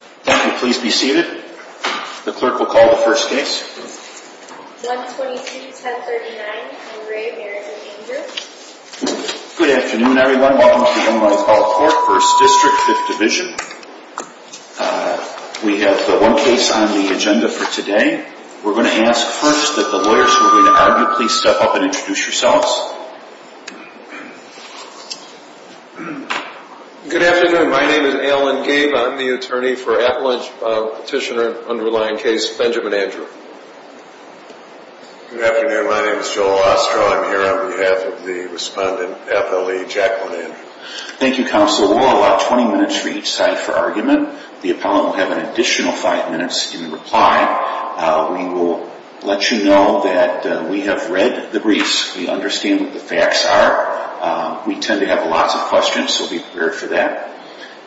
Thank you, please be seated the clerk will call the first case Good afternoon, everyone. Welcome to the online call for first district fifth division We have the one case on the agenda for today We're going to ask first that the lawyers who are going to argue please step up and introduce yourselves Good afternoon, my name is Alan Gabe. I'm the attorney for Appalachia petitioner underlying case Benjamin Andrew Good afternoon, my name is Joel Ostrow. I'm here on behalf of the respondent FLE Jacqueline. Thank you counsel We'll allow 20 minutes for each side for argument. The appellant will have an additional five minutes in reply We will let you know that we have read the briefs we understand what the facts are We tend to have lots of questions. So be prepared for that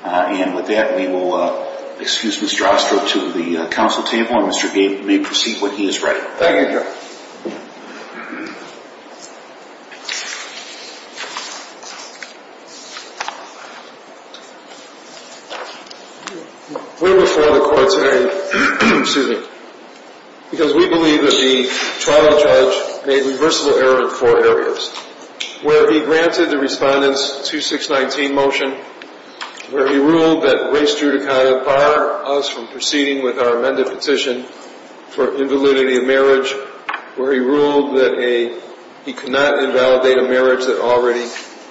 And with that we will excuse Mr. Ostrow to the council table and Mr. Gabe may proceed when he is ready Because we believe that the trial judge made reversible error in four areas Where he granted the respondents to 619 motion Where he ruled that race judicata bar us from proceeding with our amended petition for invalidity of marriage where he ruled that a he could not invalidate a marriage that already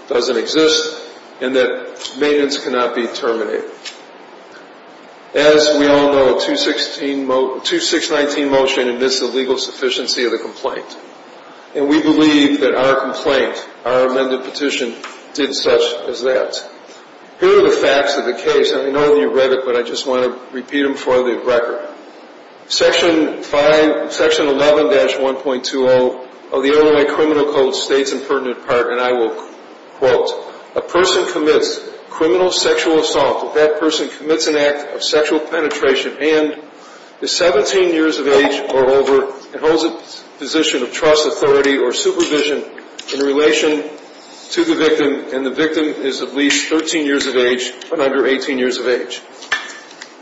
doesn't exist and that maintenance cannot be terminated as We all know a 2619 motion admits the legal sufficiency of the complaint and we believe that our complaint our amended petition Did such as that Here are the facts of the case. I know you read it, but I just want to repeat them for the record section 5 section 11-1.20 of the LA criminal code states and pertinent part and I will Quote a person commits criminal sexual assault that person commits an act of sexual penetration and The 17 years of age or over and holds a position of trust authority or supervision in relation To the victim and the victim is at least 13 years of age and under 18 years of age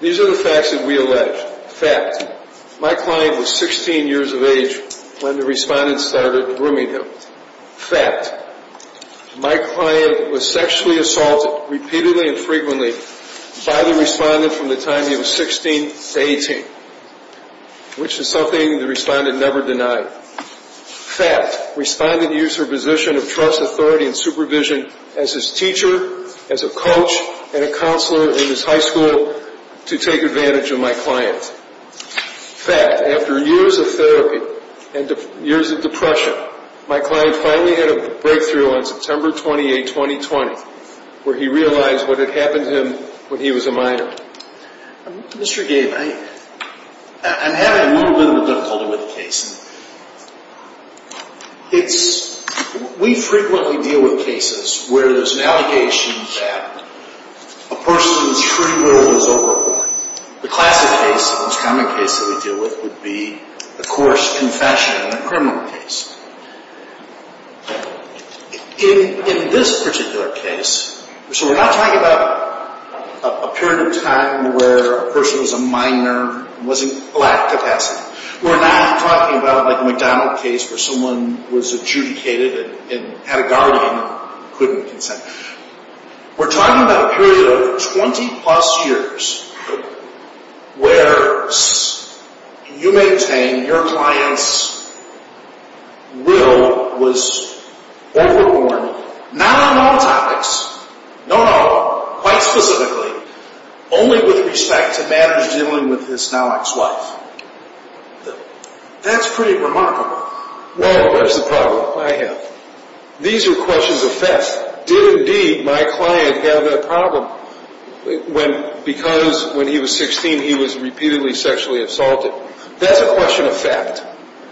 These are the facts that we allege fact my client was 16 years of age when the respondents started grooming him Fact My client was sexually assaulted repeatedly and frequently by the respondent from the time. He was 16 18 Which is something the respondent never denied fact Respondent use her position of trust authority and supervision as his teacher as a coach and a counselor in his high school to take advantage of my client Fact after years of therapy and years of depression my client finally had a breakthrough on September 28 2020 where he realized what had happened to him when he was a minor Mr. Gabe I I'm having a little bit of a difficulty with the case It's we frequently deal with cases where there's an allegation that a Common case that we deal with would be a coarse confession in a criminal case In this particular case, so we're not talking about a period of time where a person was a minor was in black capacity We're not talking about like a McDonald case where someone was adjudicated and had a guardian couldn't consent We're talking about a period of 20 plus years Where You maintain your client's Will was Overborn not on all topics No, no quite specifically only with respect to matters dealing with his now ex-wife That's pretty remarkable Well, that's the problem I have These are questions of theft did indeed my client have a problem When because when he was 16, he was repeatedly sexually assaulted That's a question of fact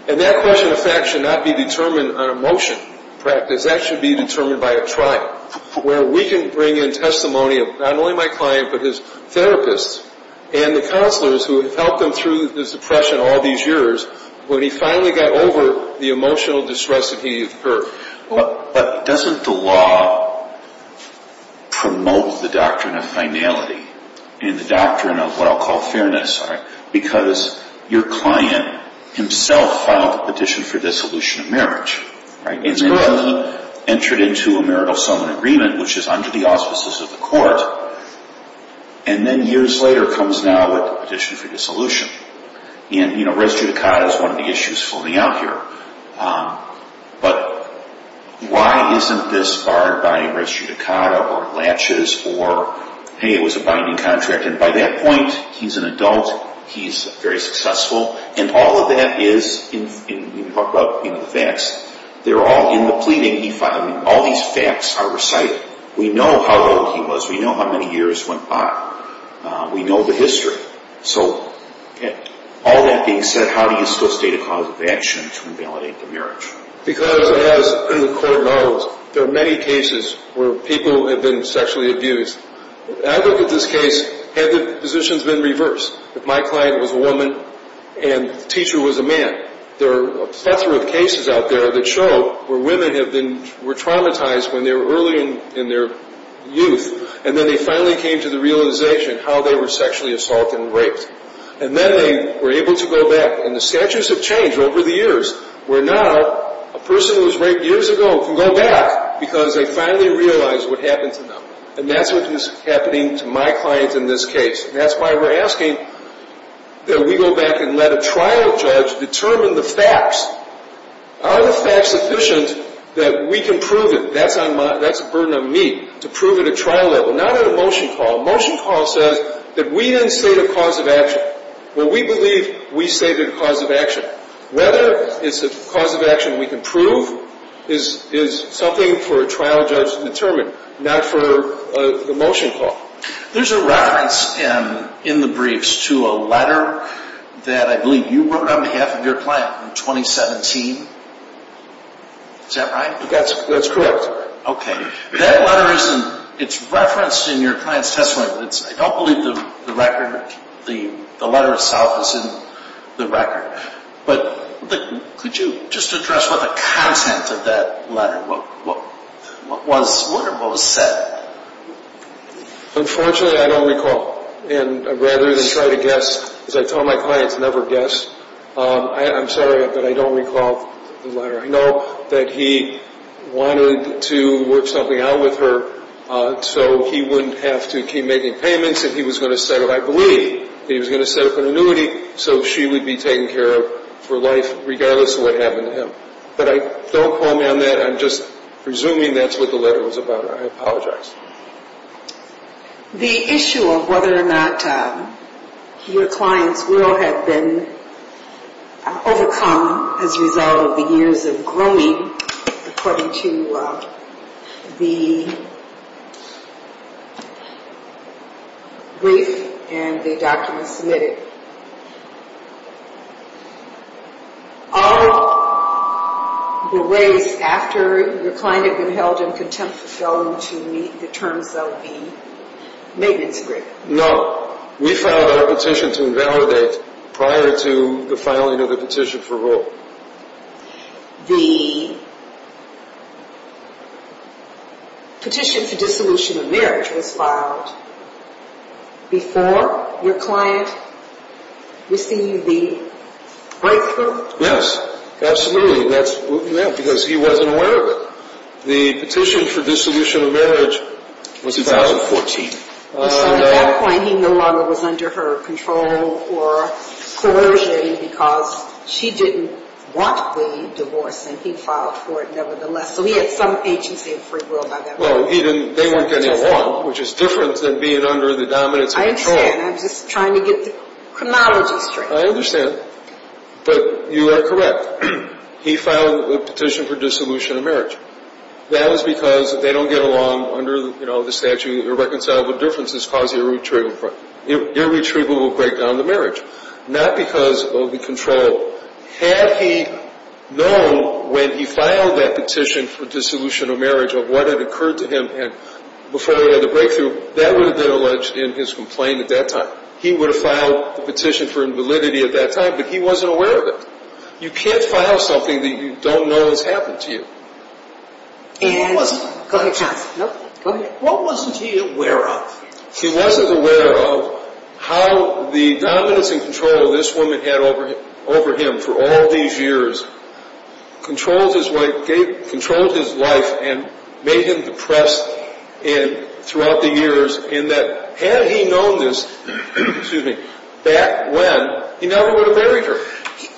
and that question of fact should not be determined on a motion Practice that should be determined by a trial where we can bring in testimony of not only my client But his therapists and the counselors who have helped them through this depression all these years When he finally got over the emotional distress that he heard But doesn't the law Promote the doctrine of finality and the doctrine of what I'll call fairness Because your client himself filed a petition for dissolution of marriage Right, it's good entered into a marital someone agreement, which is under the auspices of the court and Then years later comes now with addition for dissolution and you know res judicata is one of the issues floating out here but Why isn't this barred by res judicata or latches or hey, it was a binding contract and by that point He's an adult. He's very successful and all of that is in Facts they're all in the pleading. He finally all these facts are recited. We know how old he was. We know how many years went by We know the history. So All that being said how do you still state a cause of action to invalidate the marriage? Because as the court knows there are many cases where people have been sexually abused I look at this case had the positions been reversed if my client was a woman and Teacher was a man There are a plethora of cases out there that show where women have been were traumatized when they were early in in their youth and then they finally came to the realization how they were sexually assaulted and raped and We're able to go back and the statues have changed over the years We're now a person who was raped years ago can go back because they finally realized what happened to them And that's what is happening to my clients in this case. That's why we're asking That we go back and let a trial judge determine the facts Are the facts sufficient that we can prove it? That's on my that's a burden on me to prove it a trial level not at a motion call motion Call says that we didn't say the cause of action. Well, we believe we say the cause of action Whether it's the cause of action we can prove is is something for a trial judge to determine not for The motion call there's a reference in in the briefs to a letter That I believe you were on behalf of your client in 2017 Is that right? That's that's correct Okay, that letter isn't it's referenced in your client's testimony But it's I don't believe the record the the letter itself is in the record But but could you just address what the content of that letter? What what was what was said? Unfortunately, I don't recall and rather than try to guess as I tell my clients never guess I'm sorry, but I don't recall the letter. I know that he Wanted to work something out with her So he wouldn't have to keep making payments and he was going to set up I believe he was going to set up an annuity So she would be taken care of for life regardless of what happened to him, but I don't call me on that I'm just presuming that's what the letter was about. I apologize The issue of whether or not Your clients will have been Overcome as a result of the years of grooming according to the Brief and the documents submitted All The ways after your client had been held in contempt for failing to meet the terms of the Petition-for-vote The Petition for dissolution of marriage was filed Before your client received the Breakthrough. Yes, absolutely. That's yeah, because he wasn't aware of it the petition for dissolution of marriage was 2014 He no longer was under her control or Corrugated because she didn't want the divorce and he filed for it. Nevertheless. So he had some agency of free will No, he didn't they weren't getting along which is different than being under the dominance. I'm just trying to get Chronology straight. I understand But you are correct He filed a petition for dissolution of marriage That was because if they don't get along under the you know, the statute irreconcilable differences cause your true Irretrievable break down the marriage not because of the control Had he known when he filed that petition for dissolution of marriage of what had occurred to him and before We had a breakthrough that would have been alleged in his complaint at that time He would have filed the petition for invalidity at that time, but he wasn't aware of it You can't file something that you don't know has happened to you It wasn't What wasn't he aware of he wasn't aware of How the dominance and control of this woman had over him over him for all these years Controlled his wife gave controlled his life and made him depressed and Throughout the years in that had he known this Excuse me back when he never would have buried her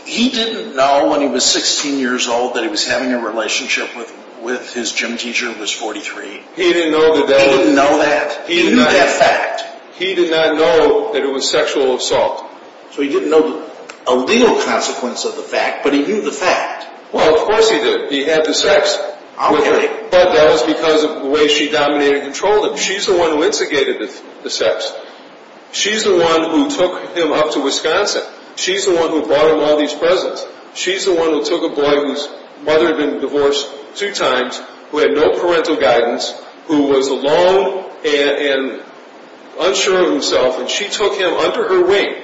He didn't know when he was 16 years old that he was having a relationship with with his gym teacher who was 43 He didn't know that they didn't know that he knew that fact. He did not know that it was sexual assault So he didn't know a legal consequence of the fact, but he knew the fact well Of course he did he had the sex I'll hear it But that was because of the way she dominated and controlled him. She's the one who instigated the sex She's the one who took him up to, Wisconsin. She's the one who bought him all these presents She's the one who took a boy whose mother had been divorced two times who had no parental guidance who was alone and Unsure of himself and she took him under her wing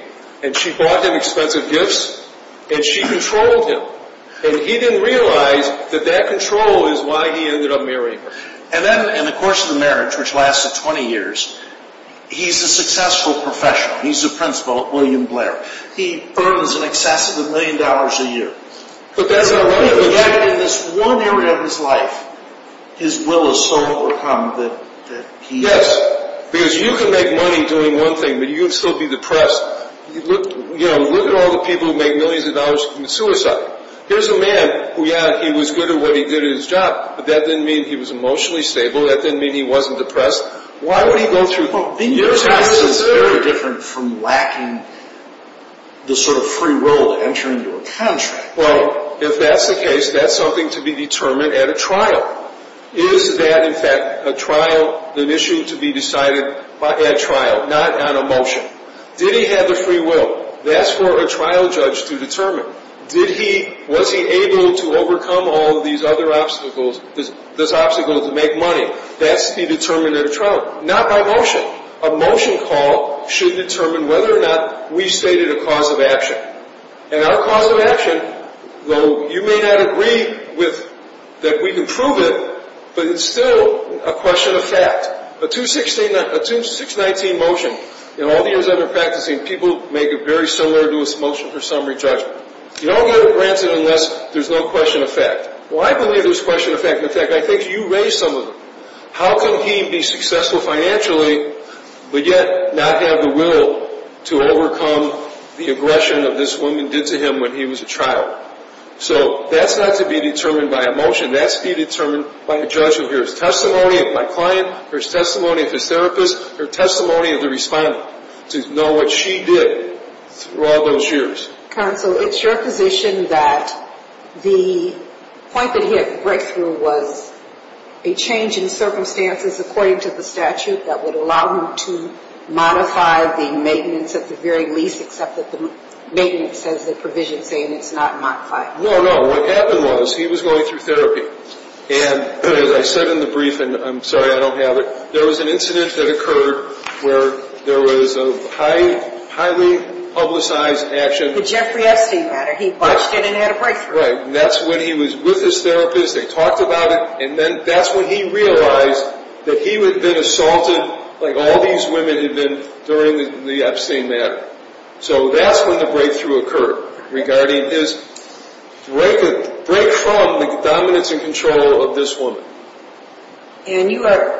and she bought him expensive gifts And she controlled him and he didn't realize that that control is why he ended up marrying And then in the course of the marriage which lasted 20 years He's a successful professional. He's a principal at William Blair. He earns in excess of a million dollars a year But that's not what he had in this one area of his life His will is so overcome that he yes, because you can make money doing one thing, but you'd still be depressed You know look at all the people who make millions of dollars from suicide Here's a man who yeah, he was good at what he did his job, but that didn't mean he was emotionally stable That didn't mean he wasn't depressed. Why would he go through the years of his life? Well being depressed is very different from lacking the sort of free will to enter into a contract Well if that's the case that's something to be determined at a trial Is that in fact a trial an issue to be decided by a trial not on a motion? Did he have the free will that's for a trial judge to determine? Did he was he able to overcome all these other obstacles this obstacle to make money? That's the determinant of trial not by motion a motion call should determine whether or not we stated a cause of action and our cause of action Though you may not agree with that we can prove it But it's still a question of fact but to 16 that assumes 619 motion You know all the years under practicing people make it very similar to its motion for summary judgment You don't get it granted unless there's no question of fact well I believe this question of fact in effect. I think you raised some of them. How can he be successful financially? But yet not have the will to overcome the aggression of this woman did to him when he was a trial So that's not to be determined by a motion That's be determined by a judgment here's testimony of my client There's testimony of his therapist her testimony of the respondent to know what she did throughout those years counsel, it's your position that the Point that he had a breakthrough was a change in circumstances according to the statute that would allow him to Modify the maintenance at the very least except that the maintenance has the provision saying it's not my fight No, no what happened was he was going through therapy and as I said in the brief, and I'm sorry I don't have it there was an incident that occurred where there was a high highly publicized action Jeffrey Epstein matter he watched it and had a breakthrough. That's when he was with his therapist They talked about it And then that's when he realized that he would been assaulted like all these women had been during the Epstein matter so that's when the breakthrough occurred regarding his Break it break from the dominance and control of this woman and you are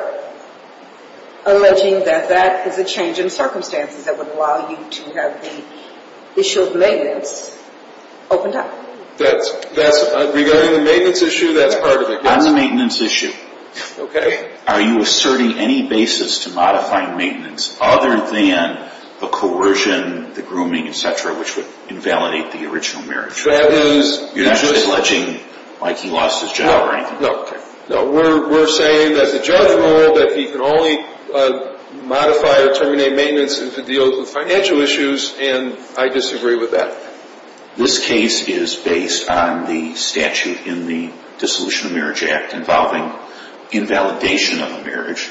Alleging that that is a change in circumstances that would allow you to have the issue of maintenance Opened up that's that's regarding the maintenance issue. That's part of it. That's a maintenance issue Okay, are you asserting any basis to modify maintenance other than the coercion the grooming etc? Which would invalidate the original marriage that is you're just alleging like he lost his job, right? No, we're saying that the judge ruled that he can only Modify or terminate maintenance into deals with financial issues, and I disagree with that This case is based on the statute in the dissolution of marriage act involving Invalidation of a marriage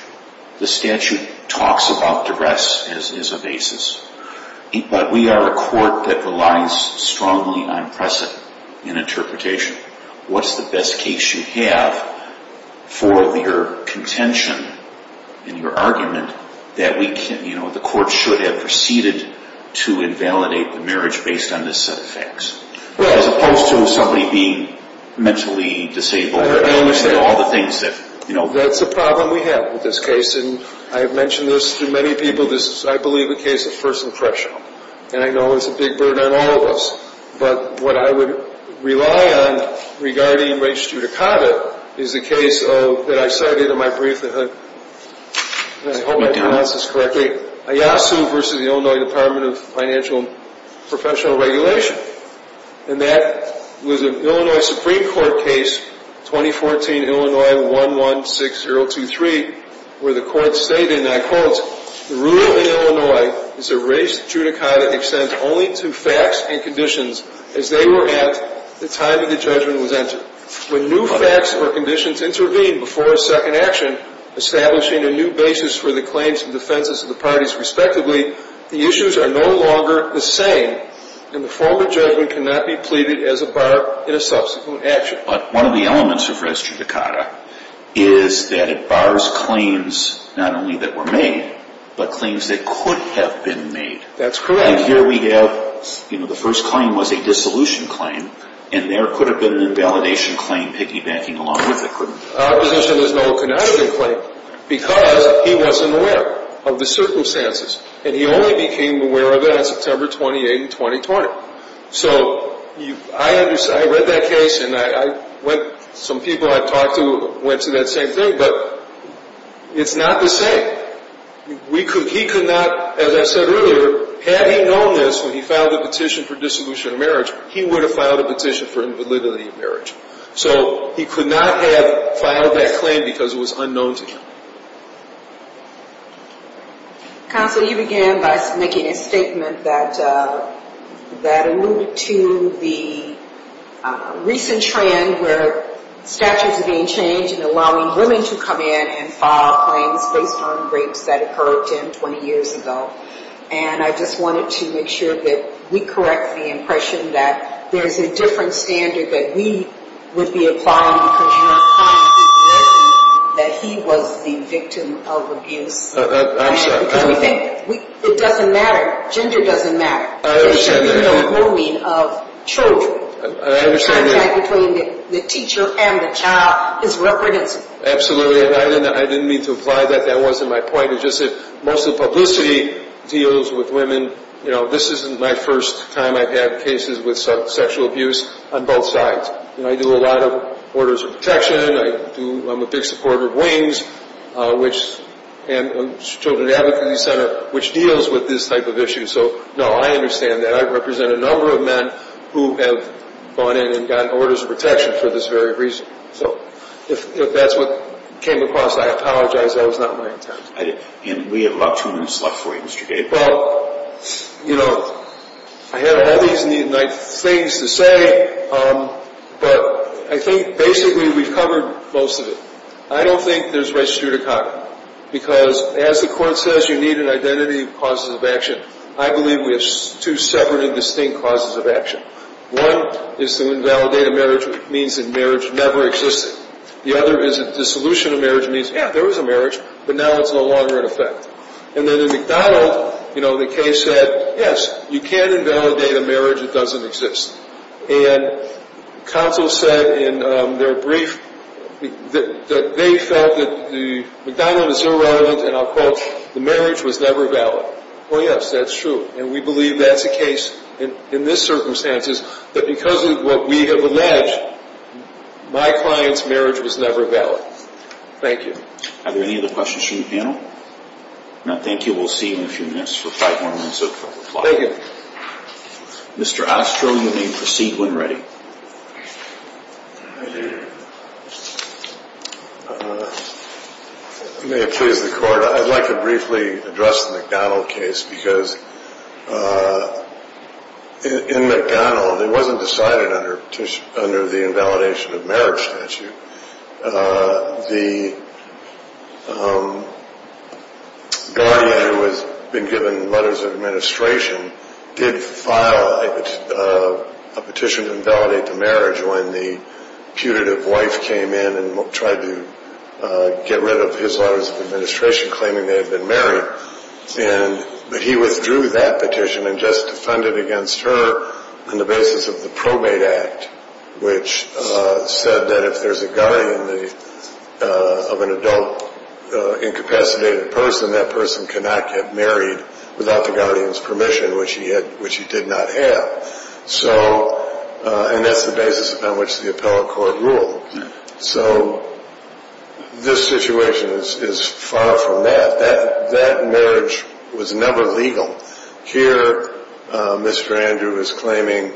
the statute talks about duress as a basis But we are a court that relies strongly on precedent in interpretation What's the best case you have for your contention in your argument that we can you know the court should have proceeded to Invalidate the marriage based on this set of facts well as opposed to somebody being Mentally disabled all the things that you know that's a problem We have with this case and I have mentioned this to many people this I believe the case of first impression And I know it's a big burden on all of us But what I would rely on regarding race judicata is the case of that. I cited in my brief the hood And I hope I do this correctly Ayasu versus the Illinois Department of Financial professional regulation and that Was an Illinois Supreme Court case 2014 Illinois one one six zero two three where the court stated and I quotes the rule in Illinois Is a race judicata extends only to facts and conditions as they were at the time of the judgment was entered When new facts or conditions intervene before a second action Establishing a new basis for the claims and defenses of the parties respectively the issues are no longer the same And the former judgment cannot be pleaded as a bar in a subsequent action But one of the elements of restrict the car is that it bars claims not only that were made But claims that could have been made that's correct here We have you know the first claim was a dissolution claim and there could have been an invalidation claim piggybacking along with it Because he wasn't aware of the circumstances and he only became aware of it on September 28 and 2020 so you I understand I read that case and I went some people I talked to went to that same thing, but It's not the same We could he could not as I said earlier Had he known this when he filed a petition for dissolution of marriage he would have filed a petition for invalidity of marriage So he could not have filed that claim because it was unknown to him Counsel you began by making a statement that that alluded to the Recent trend where Statutes are being changed and allowing women to come in and file claims based on rapes that occurred in 20 years ago And I just wanted to make sure that we correct the impression that there's a different standard that we would be applying That he was the victim of abuse It doesn't matter gender doesn't matter I Didn't mean to apply that that wasn't my point. It just said most of publicity deals with women You know this isn't my first time. I've had cases with some sexual abuse on both sides You know I do a lot of orders of protection. I do. I'm a big supporter of wings Which and Children Advocacy Center which deals with this type of issue, so no I understand that I represent a number of men who have gone in And gotten orders of protection for this very reason, so if that's what came across. I apologize. That was not my intent I didn't and we have about two minutes left for you, Mr.. Gabe well You know I have all these neat and nice things to say But I think basically we've covered most of it I don't think there's race judicata because as the court says you need an identity causes of action I believe we have two separate and distinct causes of action one is to invalidate a marriage means in marriage never existed The other is a dissolution of marriage means yeah, there is a marriage But now it's no longer in effect, and then in McDonald. You know the case said yes, you can invalidate a marriage it doesn't exist and counsel said in their brief That they felt that the McDonald is irrelevant, and I'll quote the marriage was never valid Oh, yes, that's true, and we believe that's a case in in this circumstances that because of what we have alleged My clients marriage was never valid. Thank you. Are there any other questions from the panel? No, thank you. We'll see you in a few minutes for five more minutes. Okay. Thank you Mr.. Astro you may proceed when ready May it please the court. I'd like to briefly address the McDonnell case because In McDonald it wasn't decided under under the invalidation of marriage statute the um Guardian who has been given letters of administration did file a petition to invalidate the marriage when the putative wife came in and tried to Get rid of his letters of administration claiming they had been married And but he withdrew that petition and just defended against her on the basis of the probate act which said that if there's a guy in the of an adult Incapacitated person that person cannot get married without the Guardian's permission which he had which he did not have so And that's the basis upon which the appellate court ruled so This situation is far from that that that marriage was never legal here Mr.. Andrew is claiming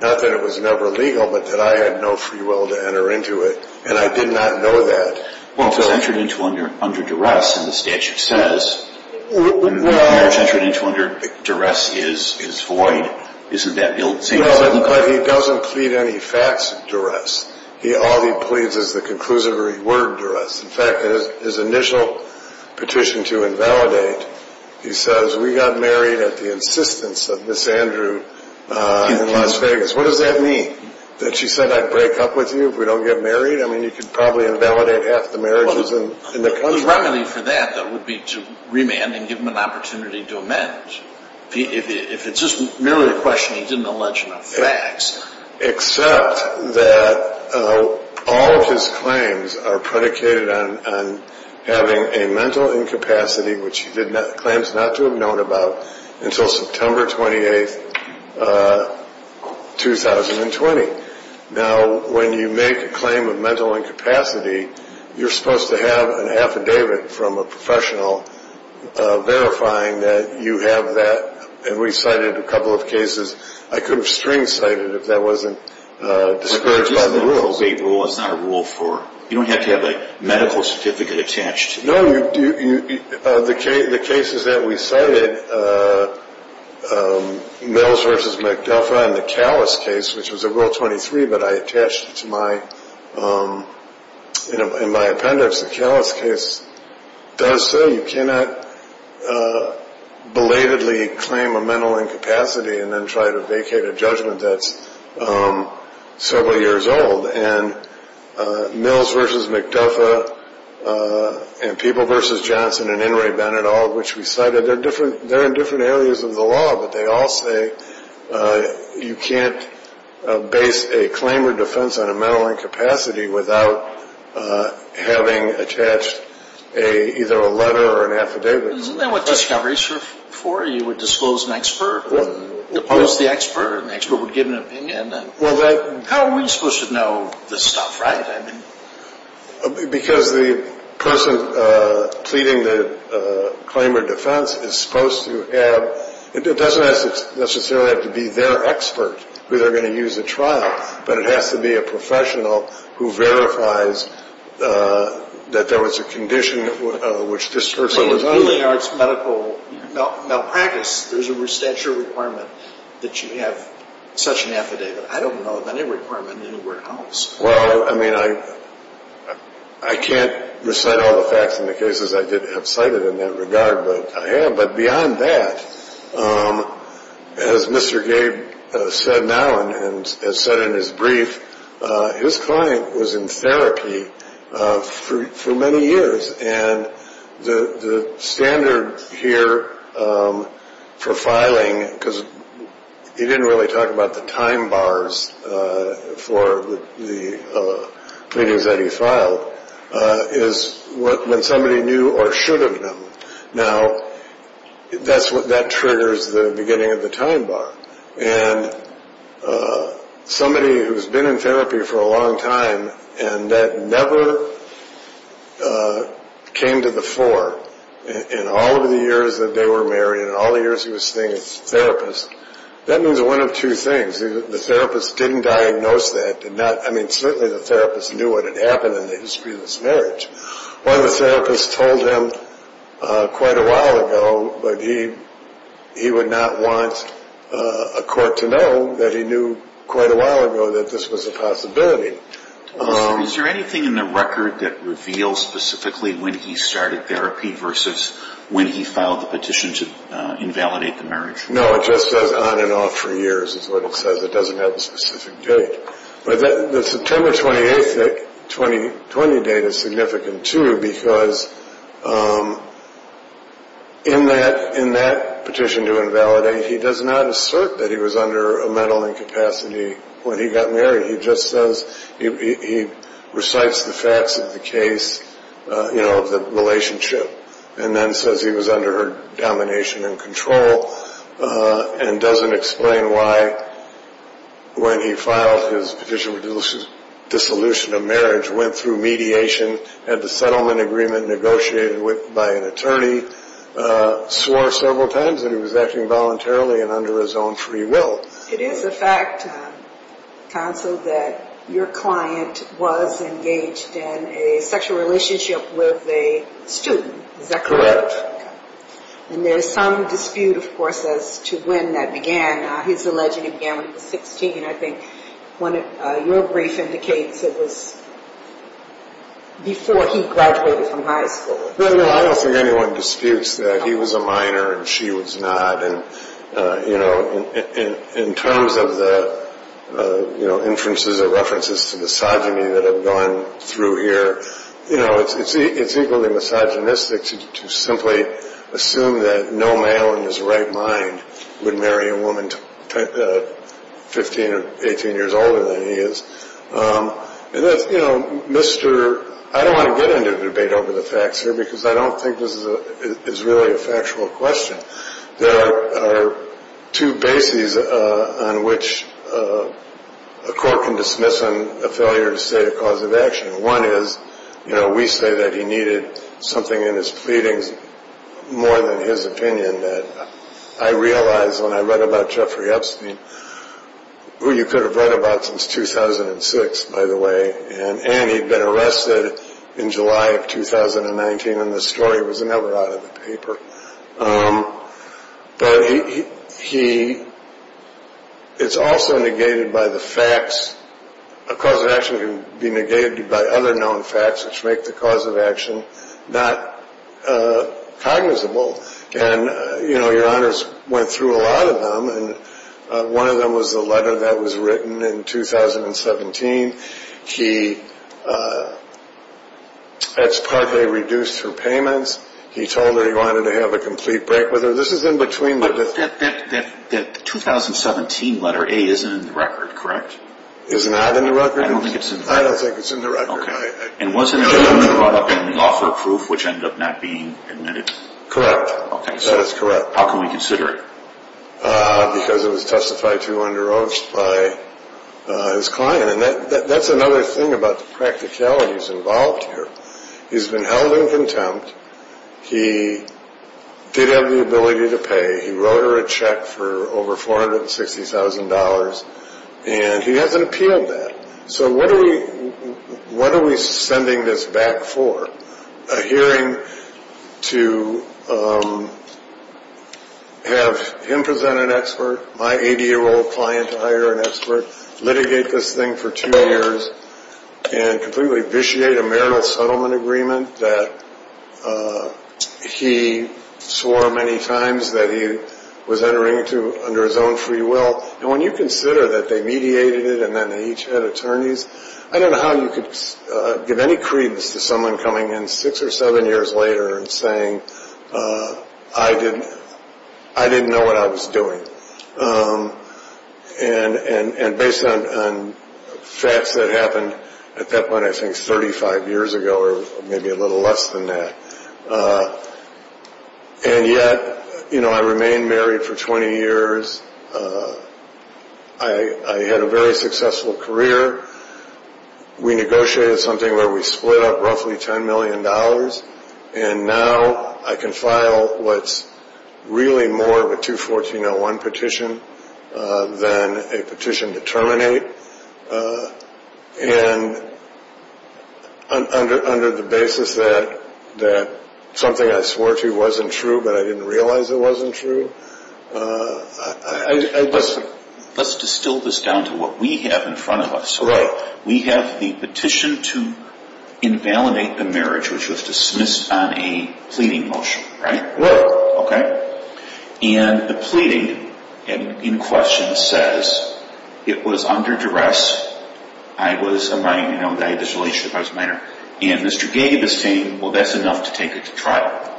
not that it was never legal But that I had no free will to enter into it, and I did not know that Once I entered into under under duress and the statute says Entered into under duress is is void isn't that But he doesn't plead any facts duress he all he pleads is the conclusive reward duress in fact his initial Petition to invalidate he says we got married at the insistence of Miss Andrew In Las Vegas, what does that mean that she said I'd break up with you if we don't get married I mean you could probably invalidate half the marriages and in the country for that that would be to remand and give him an opportunity to amend If it's just merely a question he didn't allege enough facts except that All of his claims are predicated on Having a mental incapacity which he did not claims not to have known about until September 28th 2020 Now when you make a claim of mental incapacity You're supposed to have an affidavit from a professional Verifying that you have that and we cited a couple of cases. I could have string cited if that wasn't Discouraged by the rules a rule is not a rule for you don't have to have a medical certificate attached No, you do you the case the cases that we cited A Mills versus McDuffie and the callous case which was a rule 23, but I attached to my You know in my appendix the callous case does so you cannot Belatedly claim a mental incapacity and then try to vacate a judgment that's several years old and Mills versus McDuffie And people versus Johnson and in Ray Bennett all of which we cited they're different they're in different areas of the law, but they all say you can't base a claim or defense on a mental incapacity without Having attached a either a letter or an affidavit For you would disclose an expert Oppose the expert expert would give an opinion. Well that how are we supposed to know this stuff, right? Because the person pleading the Claim or defense is supposed to have it doesn't necessarily have to be their expert who they're going to use a trial But it has to be a professional who verifies That there was a condition of which this person was only arts medical Malpractice there's a restature requirement that you have such an affidavit. I don't know of any requirement anywhere else well, I mean I I Can't recite all the facts in the cases. I did have cited in that regard, but I have but beyond that As mr. Gabe said now and has said in his brief his client was in therapy for many years and the the standard here for filing because He didn't really talk about the time bars For the Pleadings that he filed Is what when somebody knew or should have them now? that's what that triggers the beginning of the time bar and Somebody who's been in therapy for a long time and that never Came to the fore In all of the years that they were married and all the years he was saying it's therapist That means one of two things the therapist didn't diagnose that did not I mean certainly the therapist knew what had happened in the history of this marriage Well, the therapist told him quite a while ago, but he He would not want a court to know that he knew quite a while ago that this was a possibility Is there anything in the record that reveals specifically when he started therapy versus when he filed the petition to? Validate the marriage. No, it just says on and off for years. It's what it says It doesn't have a specific date, but the September 28th 2020 date is significant to because In that in that petition to invalidate he does not assert that he was under a mental incapacity When he got married, he just says he recites the facts of the case You know of the relationship and then says he was under her domination and control And doesn't explain why? When he filed his petition with the solution of marriage went through mediation at the settlement agreement negotiated with by an attorney Swore several times and he was acting voluntarily and under his own free will it is a fact Counseled that your client was engaged in a sexual relationship with a student And there's some dispute of course as to when that began he's alleged again 16 I think when your brief indicates it was Before he graduated from high school anyone disputes that he was a minor and she was not and you know in terms of the You know inferences or references to misogyny that have gone through here. You know it's it's equally misogynistic To simply assume that no male in his right mind would marry a woman 15 or 18 years older than he is And that's you know mister I don't want to get into a debate over the facts here because I don't think this is really a factual question there are two bases on which The court can dismiss him a failure to say a cause of action one is you know we say that he needed something in his pleadings more than his opinion that I realized when I read about Jeffrey Epstein Who you could have read about since? 2006 by the way and and he'd been arrested in July of 2019 and the story was never out of the paper But he It's also negated by the facts a cause of action can be negated by other known facts which make the cause of action not Cognizable and you know your honors went through a lot of them and one of them was the letter that was written in 2017 he That's partly reduced her payments he told her he wanted to have a complete break with her That 2017 letter a isn't in the record correct is not in the record I don't think it's in I don't think it's in the record and wasn't The offer proof which ended up not being admitted correct. Okay, so that's correct. How can we consider it? because it was testified to under oath by His client and that that's another thing about the practicalities involved here. He's been held in contempt he Did have the ability to pay he wrote her a check for over $460,000 and he hasn't appealed that so what are we? What are we sending this back for a hearing? to Have him present an expert my 80 year old client to hire an expert litigate this thing for two years and completely vitiate a marital settlement agreement that He Swore many times that he was entering to under his own free will and when you consider that they mediated it And then they each had attorneys I don't know how you could give any credence to someone coming in six or seven years later and saying I didn't I didn't know what I was doing and and and based on Facts that happened at that point. I think 35 years ago, or maybe a little less than that And yet, you know, I remained married for 20 years I Had a very successful career We negotiated something where we split up roughly 10 million dollars and now I can file what's Really more of a 214-01 petition Than a petition to terminate And Under under the basis that that something I swore to you wasn't true, but I didn't realize it wasn't true Listen let's distill this down to what we have in front of us. So right we have the petition to Invalidate the marriage which was dismissed on a pleading motion, right? Okay And the pleading and in question says it was under duress I Was a right, you know, I had this relationship. I was minor and mr. Gay gave this thing. Well, that's enough to take it to trial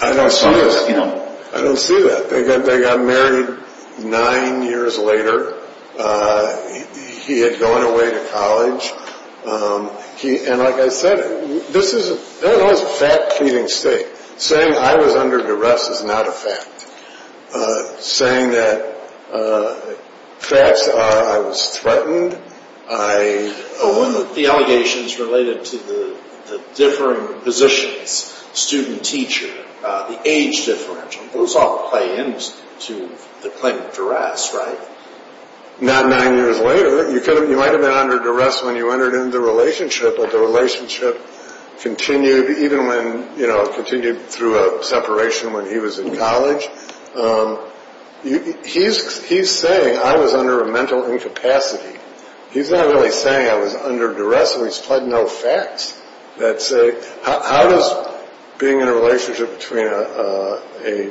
I don't see it. You know, I don't see that they got they got married nine years later He had gone away to college He and like I said, this is a fat-eating state saying I was under duress is not a fact saying that Facts I was threatened. I The allegations related to the differing positions Student teacher the age differential those all play into the claim of duress, right? Not nine years later you couldn't you might have been under duress when you entered into the relationship, but the relationship Continued even when you know continued through a separation when he was in college He's he's saying I was under a mental incapacity He's not really saying I was under duress. So he's pled no facts. That's a how does being in a relationship between a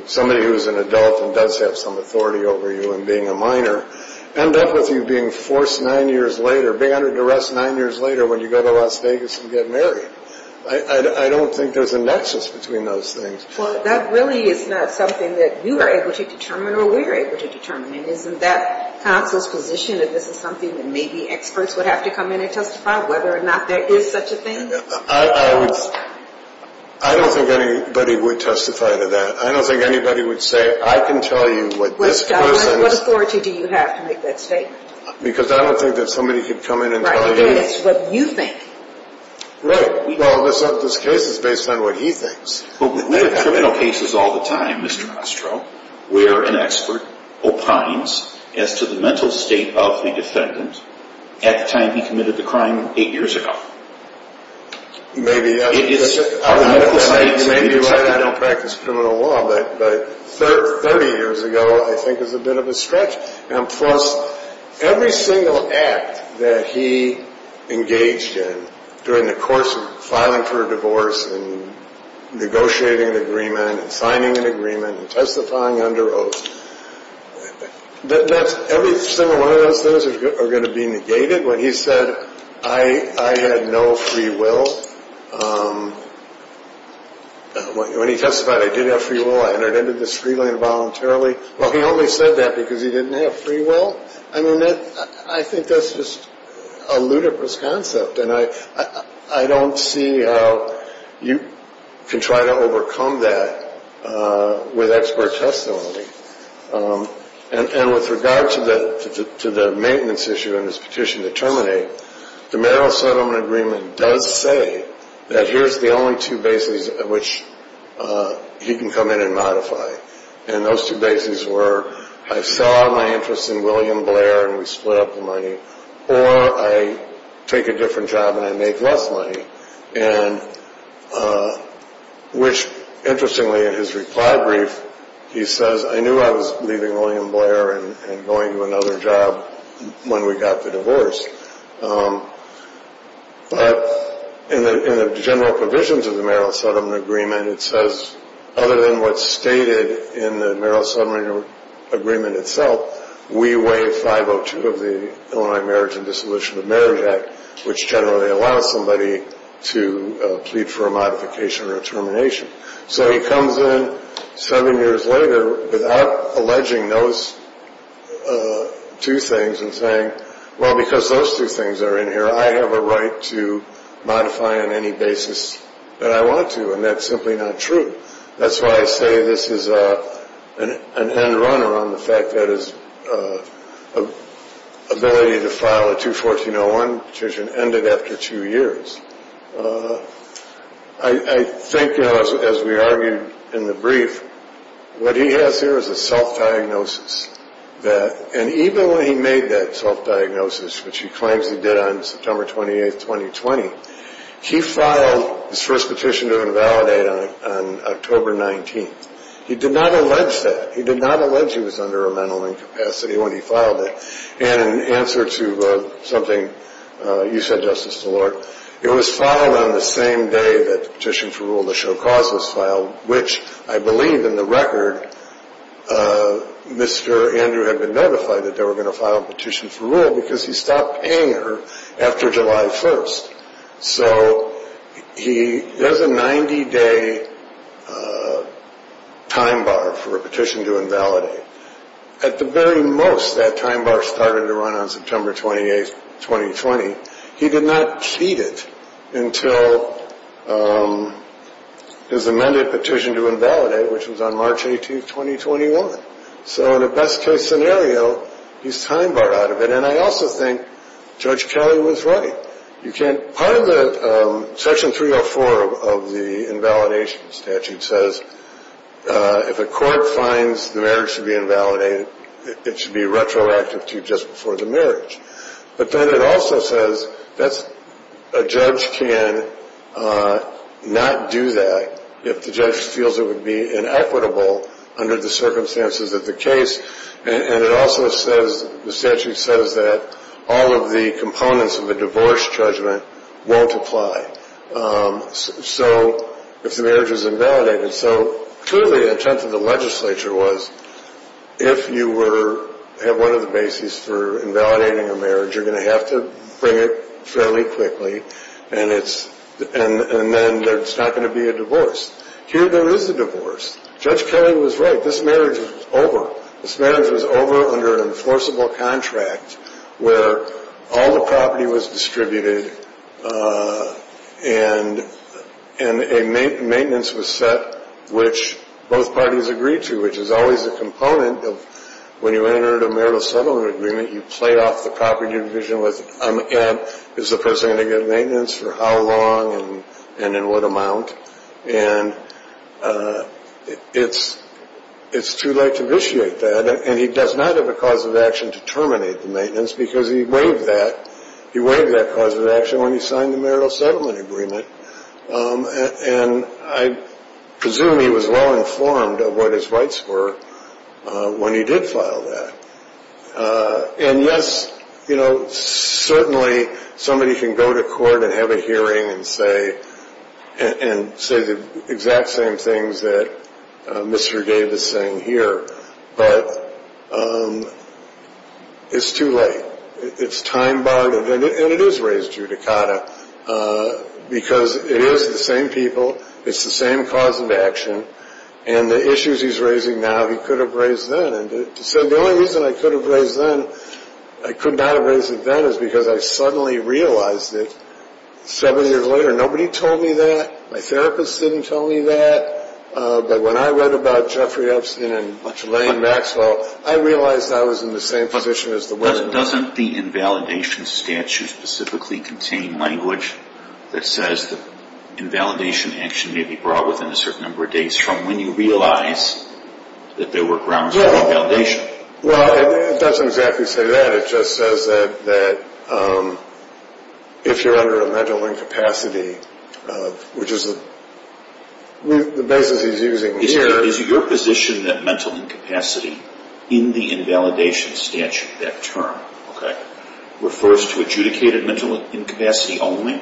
Somebody who's an adult and does have some authority over you and being a minor End up with you being forced nine years later being under duress nine years later when you go to Las Vegas and get married I I don't think there's a nexus between those things Well, that really is not something that you were able to determine or we were able to determine isn't that? Conscious position if this is something that maybe experts would have to come in and testify whether or not there is such a thing I I don't think anybody would testify to that. I don't think anybody would say I can tell you what this Because I don't think that somebody could come in and tell you what you think Well, this up this case is based on what he thinks Criminal cases all the time. Mr. Castro. We're an expert Opines as to the mental state of the defendant at the time. He committed the crime eight years ago You may be Maybe right. I don't practice criminal law, but but 30 years ago, I think is a bit of a stretch and plus every single act that he engaged in during the course of filing for a divorce and Negotiating an agreement and signing an agreement and testifying under oath That that's every single one of those things are going to be negated when he said I I had no free will When he testified I didn't have free will I entered into this free land voluntarily Well, he only said that because he didn't have free will I mean that I think that's just a ludicrous concept And I I don't see how you can try to overcome that with expert testimony And with regard to the to the maintenance issue in this petition to terminate the marital settlement agreement does say that here's the only two bases at which He can come in and modify and those two bases were I saw my interest in William Blair and we split up the money or I take a different job, and I make less money and Which interestingly in his reply brief He says I knew I was leaving William Blair and going to another job when we got the divorce But in the general provisions of the marital settlement agreement It says other than what's stated in the marital settlement agreement itself We weigh 502 of the Illinois marriage and dissolution of marriage act which generally allows somebody to Plead for a modification or a termination, so he comes in seven years later without alleging those Two things and saying well because those two things are in here I have a right to modify on any basis that I want to and that's simply not true that's why I say this is a an end-runner on the fact that his Ability to file a 214-01 petition ended after two years I Think as we argued in the brief What he has here is a self-diagnosis That and even when he made that self-diagnosis, which he claims he did on September 28th 2020 He filed his first petition to invalidate on October 19th he did not allege that he did not allege He was under a mental incapacity when he filed it and in answer to something You said justice the Lord it was filed on the same day that the petition for rule the show causes filed Which I believe in the record Mr.. Andrew had been notified that they were going to file a petition for rule because he stopped paying her after July 1st, so He does a 90-day Time bar for a petition to invalidate At the very most that time bar started to run on September 28th 2020 he did not feed it until His amended petition to invalidate which was on March 18th 2021 so in a best-case scenario He's time bar out of it, and I also think judge Kelly was right you can't part of the section 304 of the invalidation statute says If a court finds the marriage to be invalidated it should be retroactive to just before the marriage But then it also says that's a judge can Not do that if the judge feels it would be inequitable Under the circumstances of the case and it also says the statute says that all of the components of the divorce judgment won't apply So if the marriage is invalidated so clearly the intent of the legislature was If you were have one of the bases for invalidating a marriage you're going to have to bring it fairly quickly And it's and and then there's not going to be a divorce here There is a divorce judge Kelly was right this marriage was over this marriage was over under an enforceable contract Where all the property was distributed? And And a maintenance was set which both parties agreed to which is always a component of When you entered a marital settlement agreement you played off the property division with I'm again is the person going to get maintenance for how long and and in what amount and It's It's too late to initiate that and he does not have a cause of action to terminate the maintenance because he waived that He waited that cause of action when he signed the marital settlement agreement and I Presume he was well informed of what his rights were When he did file that And yes, you know certainly somebody can go to court and have a hearing and say and say the exact same things that Mr.. Davis saying here, but It's too late, it's time-borrowed, and it is raised judicata Because it is the same people it's the same cause of action and the issues He's raising now. He could have raised then and said the only reason I could have raised then I Could not have raised it then is because I suddenly realized it Seven years later nobody told me that my therapist didn't tell me that But when I read about Jeffrey Epstein and much Elaine Maxwell I realized I was in the same position as the weather doesn't the invalidation statute specifically contain language that says the Invalidation action may be brought within a certain number of days from when you realize That there were grounds for validation Well, it doesn't exactly say that it just says that that If you're under a mental incapacity which is a Basis he's using here is your position that mental incapacity in the invalidation statute that term okay? refers to adjudicated mental incapacity only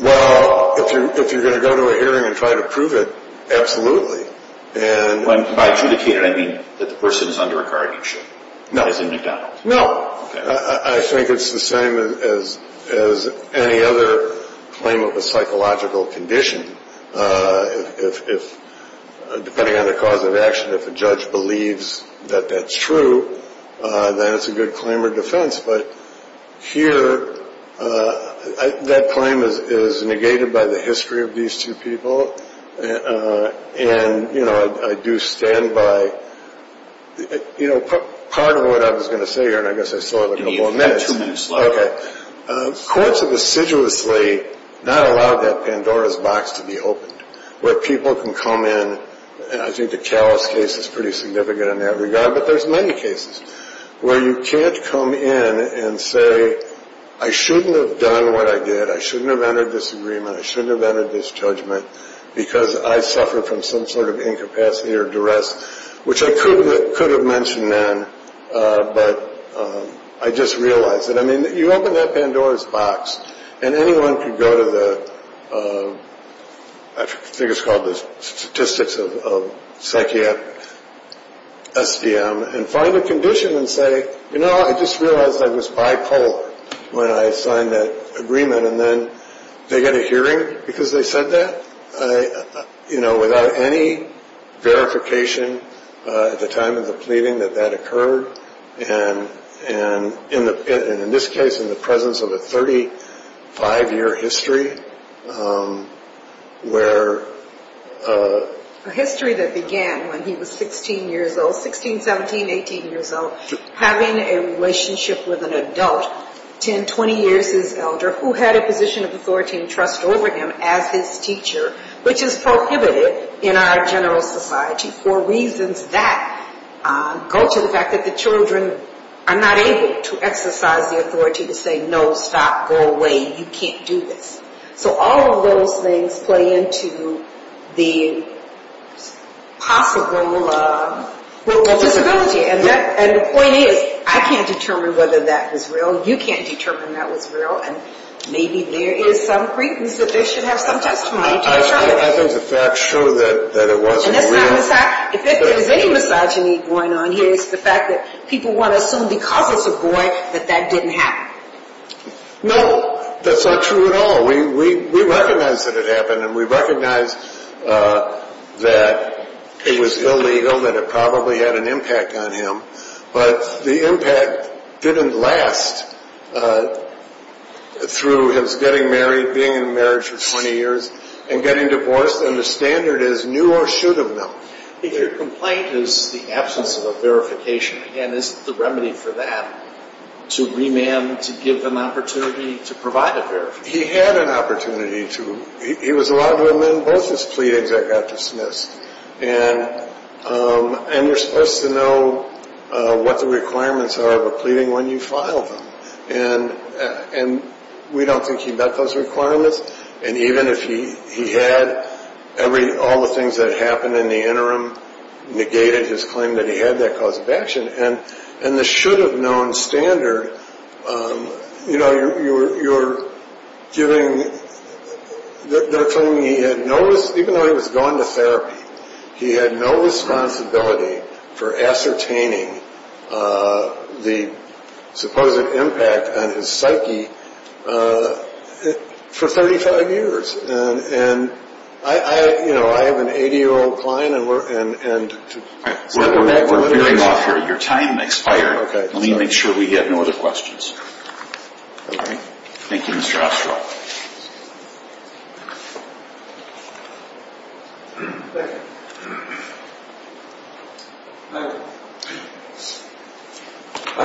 Well if you're going to go to a hearing and try to prove it Absolutely, and when I adjudicated I mean that the person is under a guardianship No, I think it's the same as as any other Psychological condition Depending on the cause of action if the judge believes that that's true then it's a good claim or defense, but here That claim is negated by the history of these two people And you know I do stand by You know part of what I was going to say here, and I guess I saw it in a moment Okay Courts have assiduously Not allowed that Pandora's box to be opened where people can come in and I think the callous case is pretty significant in that regard But there's many cases where you can't come in and say I shouldn't have done what I did I shouldn't have entered this agreement I shouldn't have entered this judgment because I suffered from some sort of incapacity or duress which I couldn't could have mentioned then But I just realized that I mean that you open that Pandora's box and anyone could go to the Figures called the statistics of psychiatric SDM and find a condition and say you know I just realized I was bipolar When I signed that agreement, and then they get a hearing because they said that I you know without any Verification at the time of the pleading that that occurred and And in the in this case in the presence of a 35 year history Where History that began when he was 16 years old 16 17 18 years old having a relationship with an adult 10 20 years his elder who had a position of authority and trust over him as his teacher Which is prohibited in our general society for reasons that? Go to the fact that the children are not able to exercise the authority to say no stop go away You can't do this so all of those things play into the Possible Disability and that and the point is I can't determine whether that was real you can't determine that was real and There is some People want to assume because it's a boy that that didn't happen No, that's not true at all. We we recognize that it happened and we recognize That it was illegal that it probably had an impact on him, but the impact didn't last It through his getting married being in marriage for 20 years and getting divorced and the standard is new or should of them If your complaint is the absence of a verification and this is the remedy for that To remand to give them opportunity to provide it there he had an opportunity to he was a lot of women both his pleadings that got dismissed and And you're supposed to know What the requirements are of a pleading when you file them and And we don't think he met those requirements and even if he he had Every all the things that happened in the interim Negated his claim that he had that cause of action and and the should have known standard You know you're you're giving The thing he had no even though he was going to therapy. He had no responsibility for ascertaining the Supposed impact on his psyche For 35 years and and I I you know I have an 80 year old client and we're and and Your time expired okay, let me make sure we have no other questions, thank you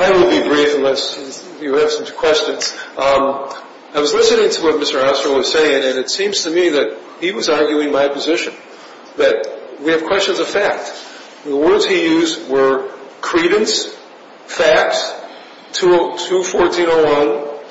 I Will be brief unless you have such questions I was listening to what mr. Houser was saying and it seems to me that he was arguing my position that we have questions of fact the words he used were credence facts To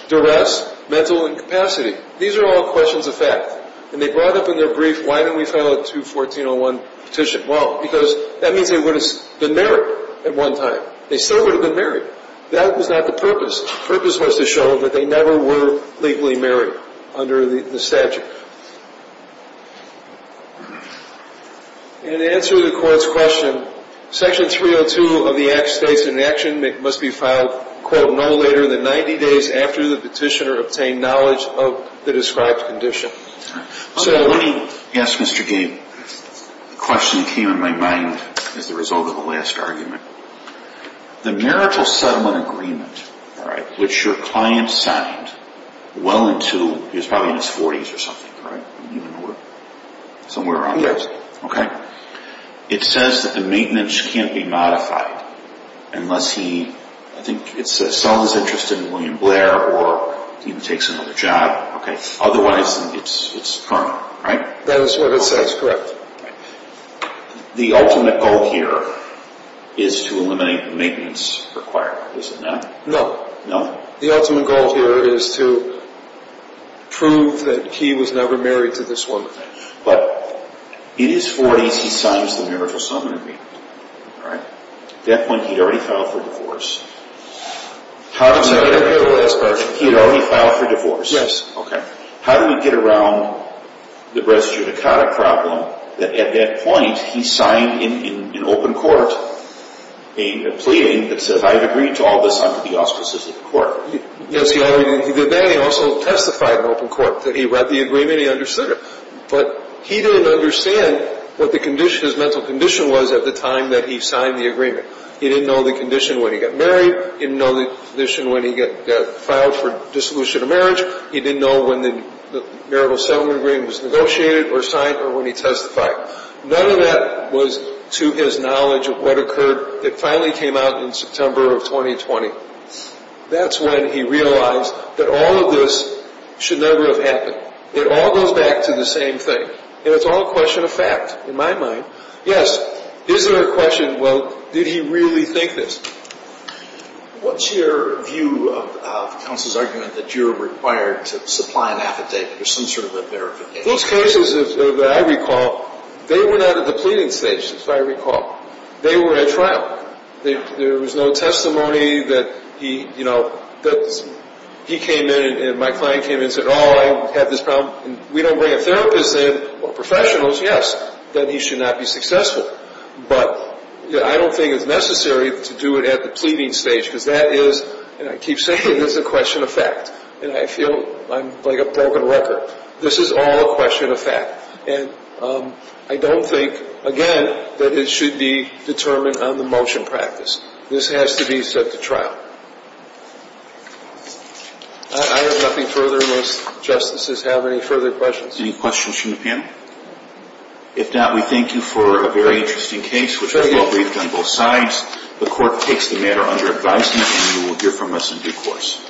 Duress mental incapacity these are all questions of fact and they brought up in their brief Why don't we follow to 1401 petition well because that means they would have been married at one time They still would have been married that was not the purpose purpose was to show that they never were legally married under the statute And Answer the court's question Section 302 of the act states in action It must be filed quote no later than 90 days after the petitioner obtained knowledge of the described condition So yes, mr. Gabe the question came in my mind as the result of the last argument The marital settlement agreement all right, which your client signed? Well into is probably in his 40s or something right Somewhere around yes, okay It says that the maintenance can't be modified Unless he I think it's a son is interested in William Blair or even takes another job, okay? Otherwise, it's it's permanent right that is what it says correct The ultimate goal here is to eliminate the maintenance required No no the ultimate goal here is to Prove that he was never married to this woman, but it is 40s. He signs the marital settlement agreement All right death when he'd already filed for divorce How does that appear the last version he had already filed for divorce? Yes, okay? How do we get around? The breast eudicata problem that at that point he signed in an open court Pleading that said I've agreed to all this under the auspices of the court Yes, he already did that he also testified in open court that he read the agreement he understood it But he didn't understand what the condition his mental condition was at the time that he signed the agreement He didn't know the condition when he got married didn't know the condition when he get filed for dissolution of marriage He didn't know when the marital settlement agreement was negotiated or signed or when he testified None of that was to his knowledge of what occurred it finally came out in September of 2020 That's when he realized that all of this Should never have happened it all goes back to the same thing and it's all a question of fact in my mind Yes, is there a question? Well did he really think this? What's your view? Counsel's argument that you're required to supply an affidavit or some sort of a bear Those cases that I recall they were not at the pleading stage So I recall they were at trial they there was no testimony that he you know That's he came in and my client came in said all I had this problem We don't bring a therapist in or professionals. Yes that he should not be successful But I don't think it's necessary to do it at the pleading stage because that is and I keep saying this is a question of This is all a question of fact and I don't think again that it should be determined on the motion practice. This has to be set to trial Any questions from the panel If not, we thank you for a very interesting case, which is well briefed on both sides The court takes the matter under advisement and you will hear from us in due course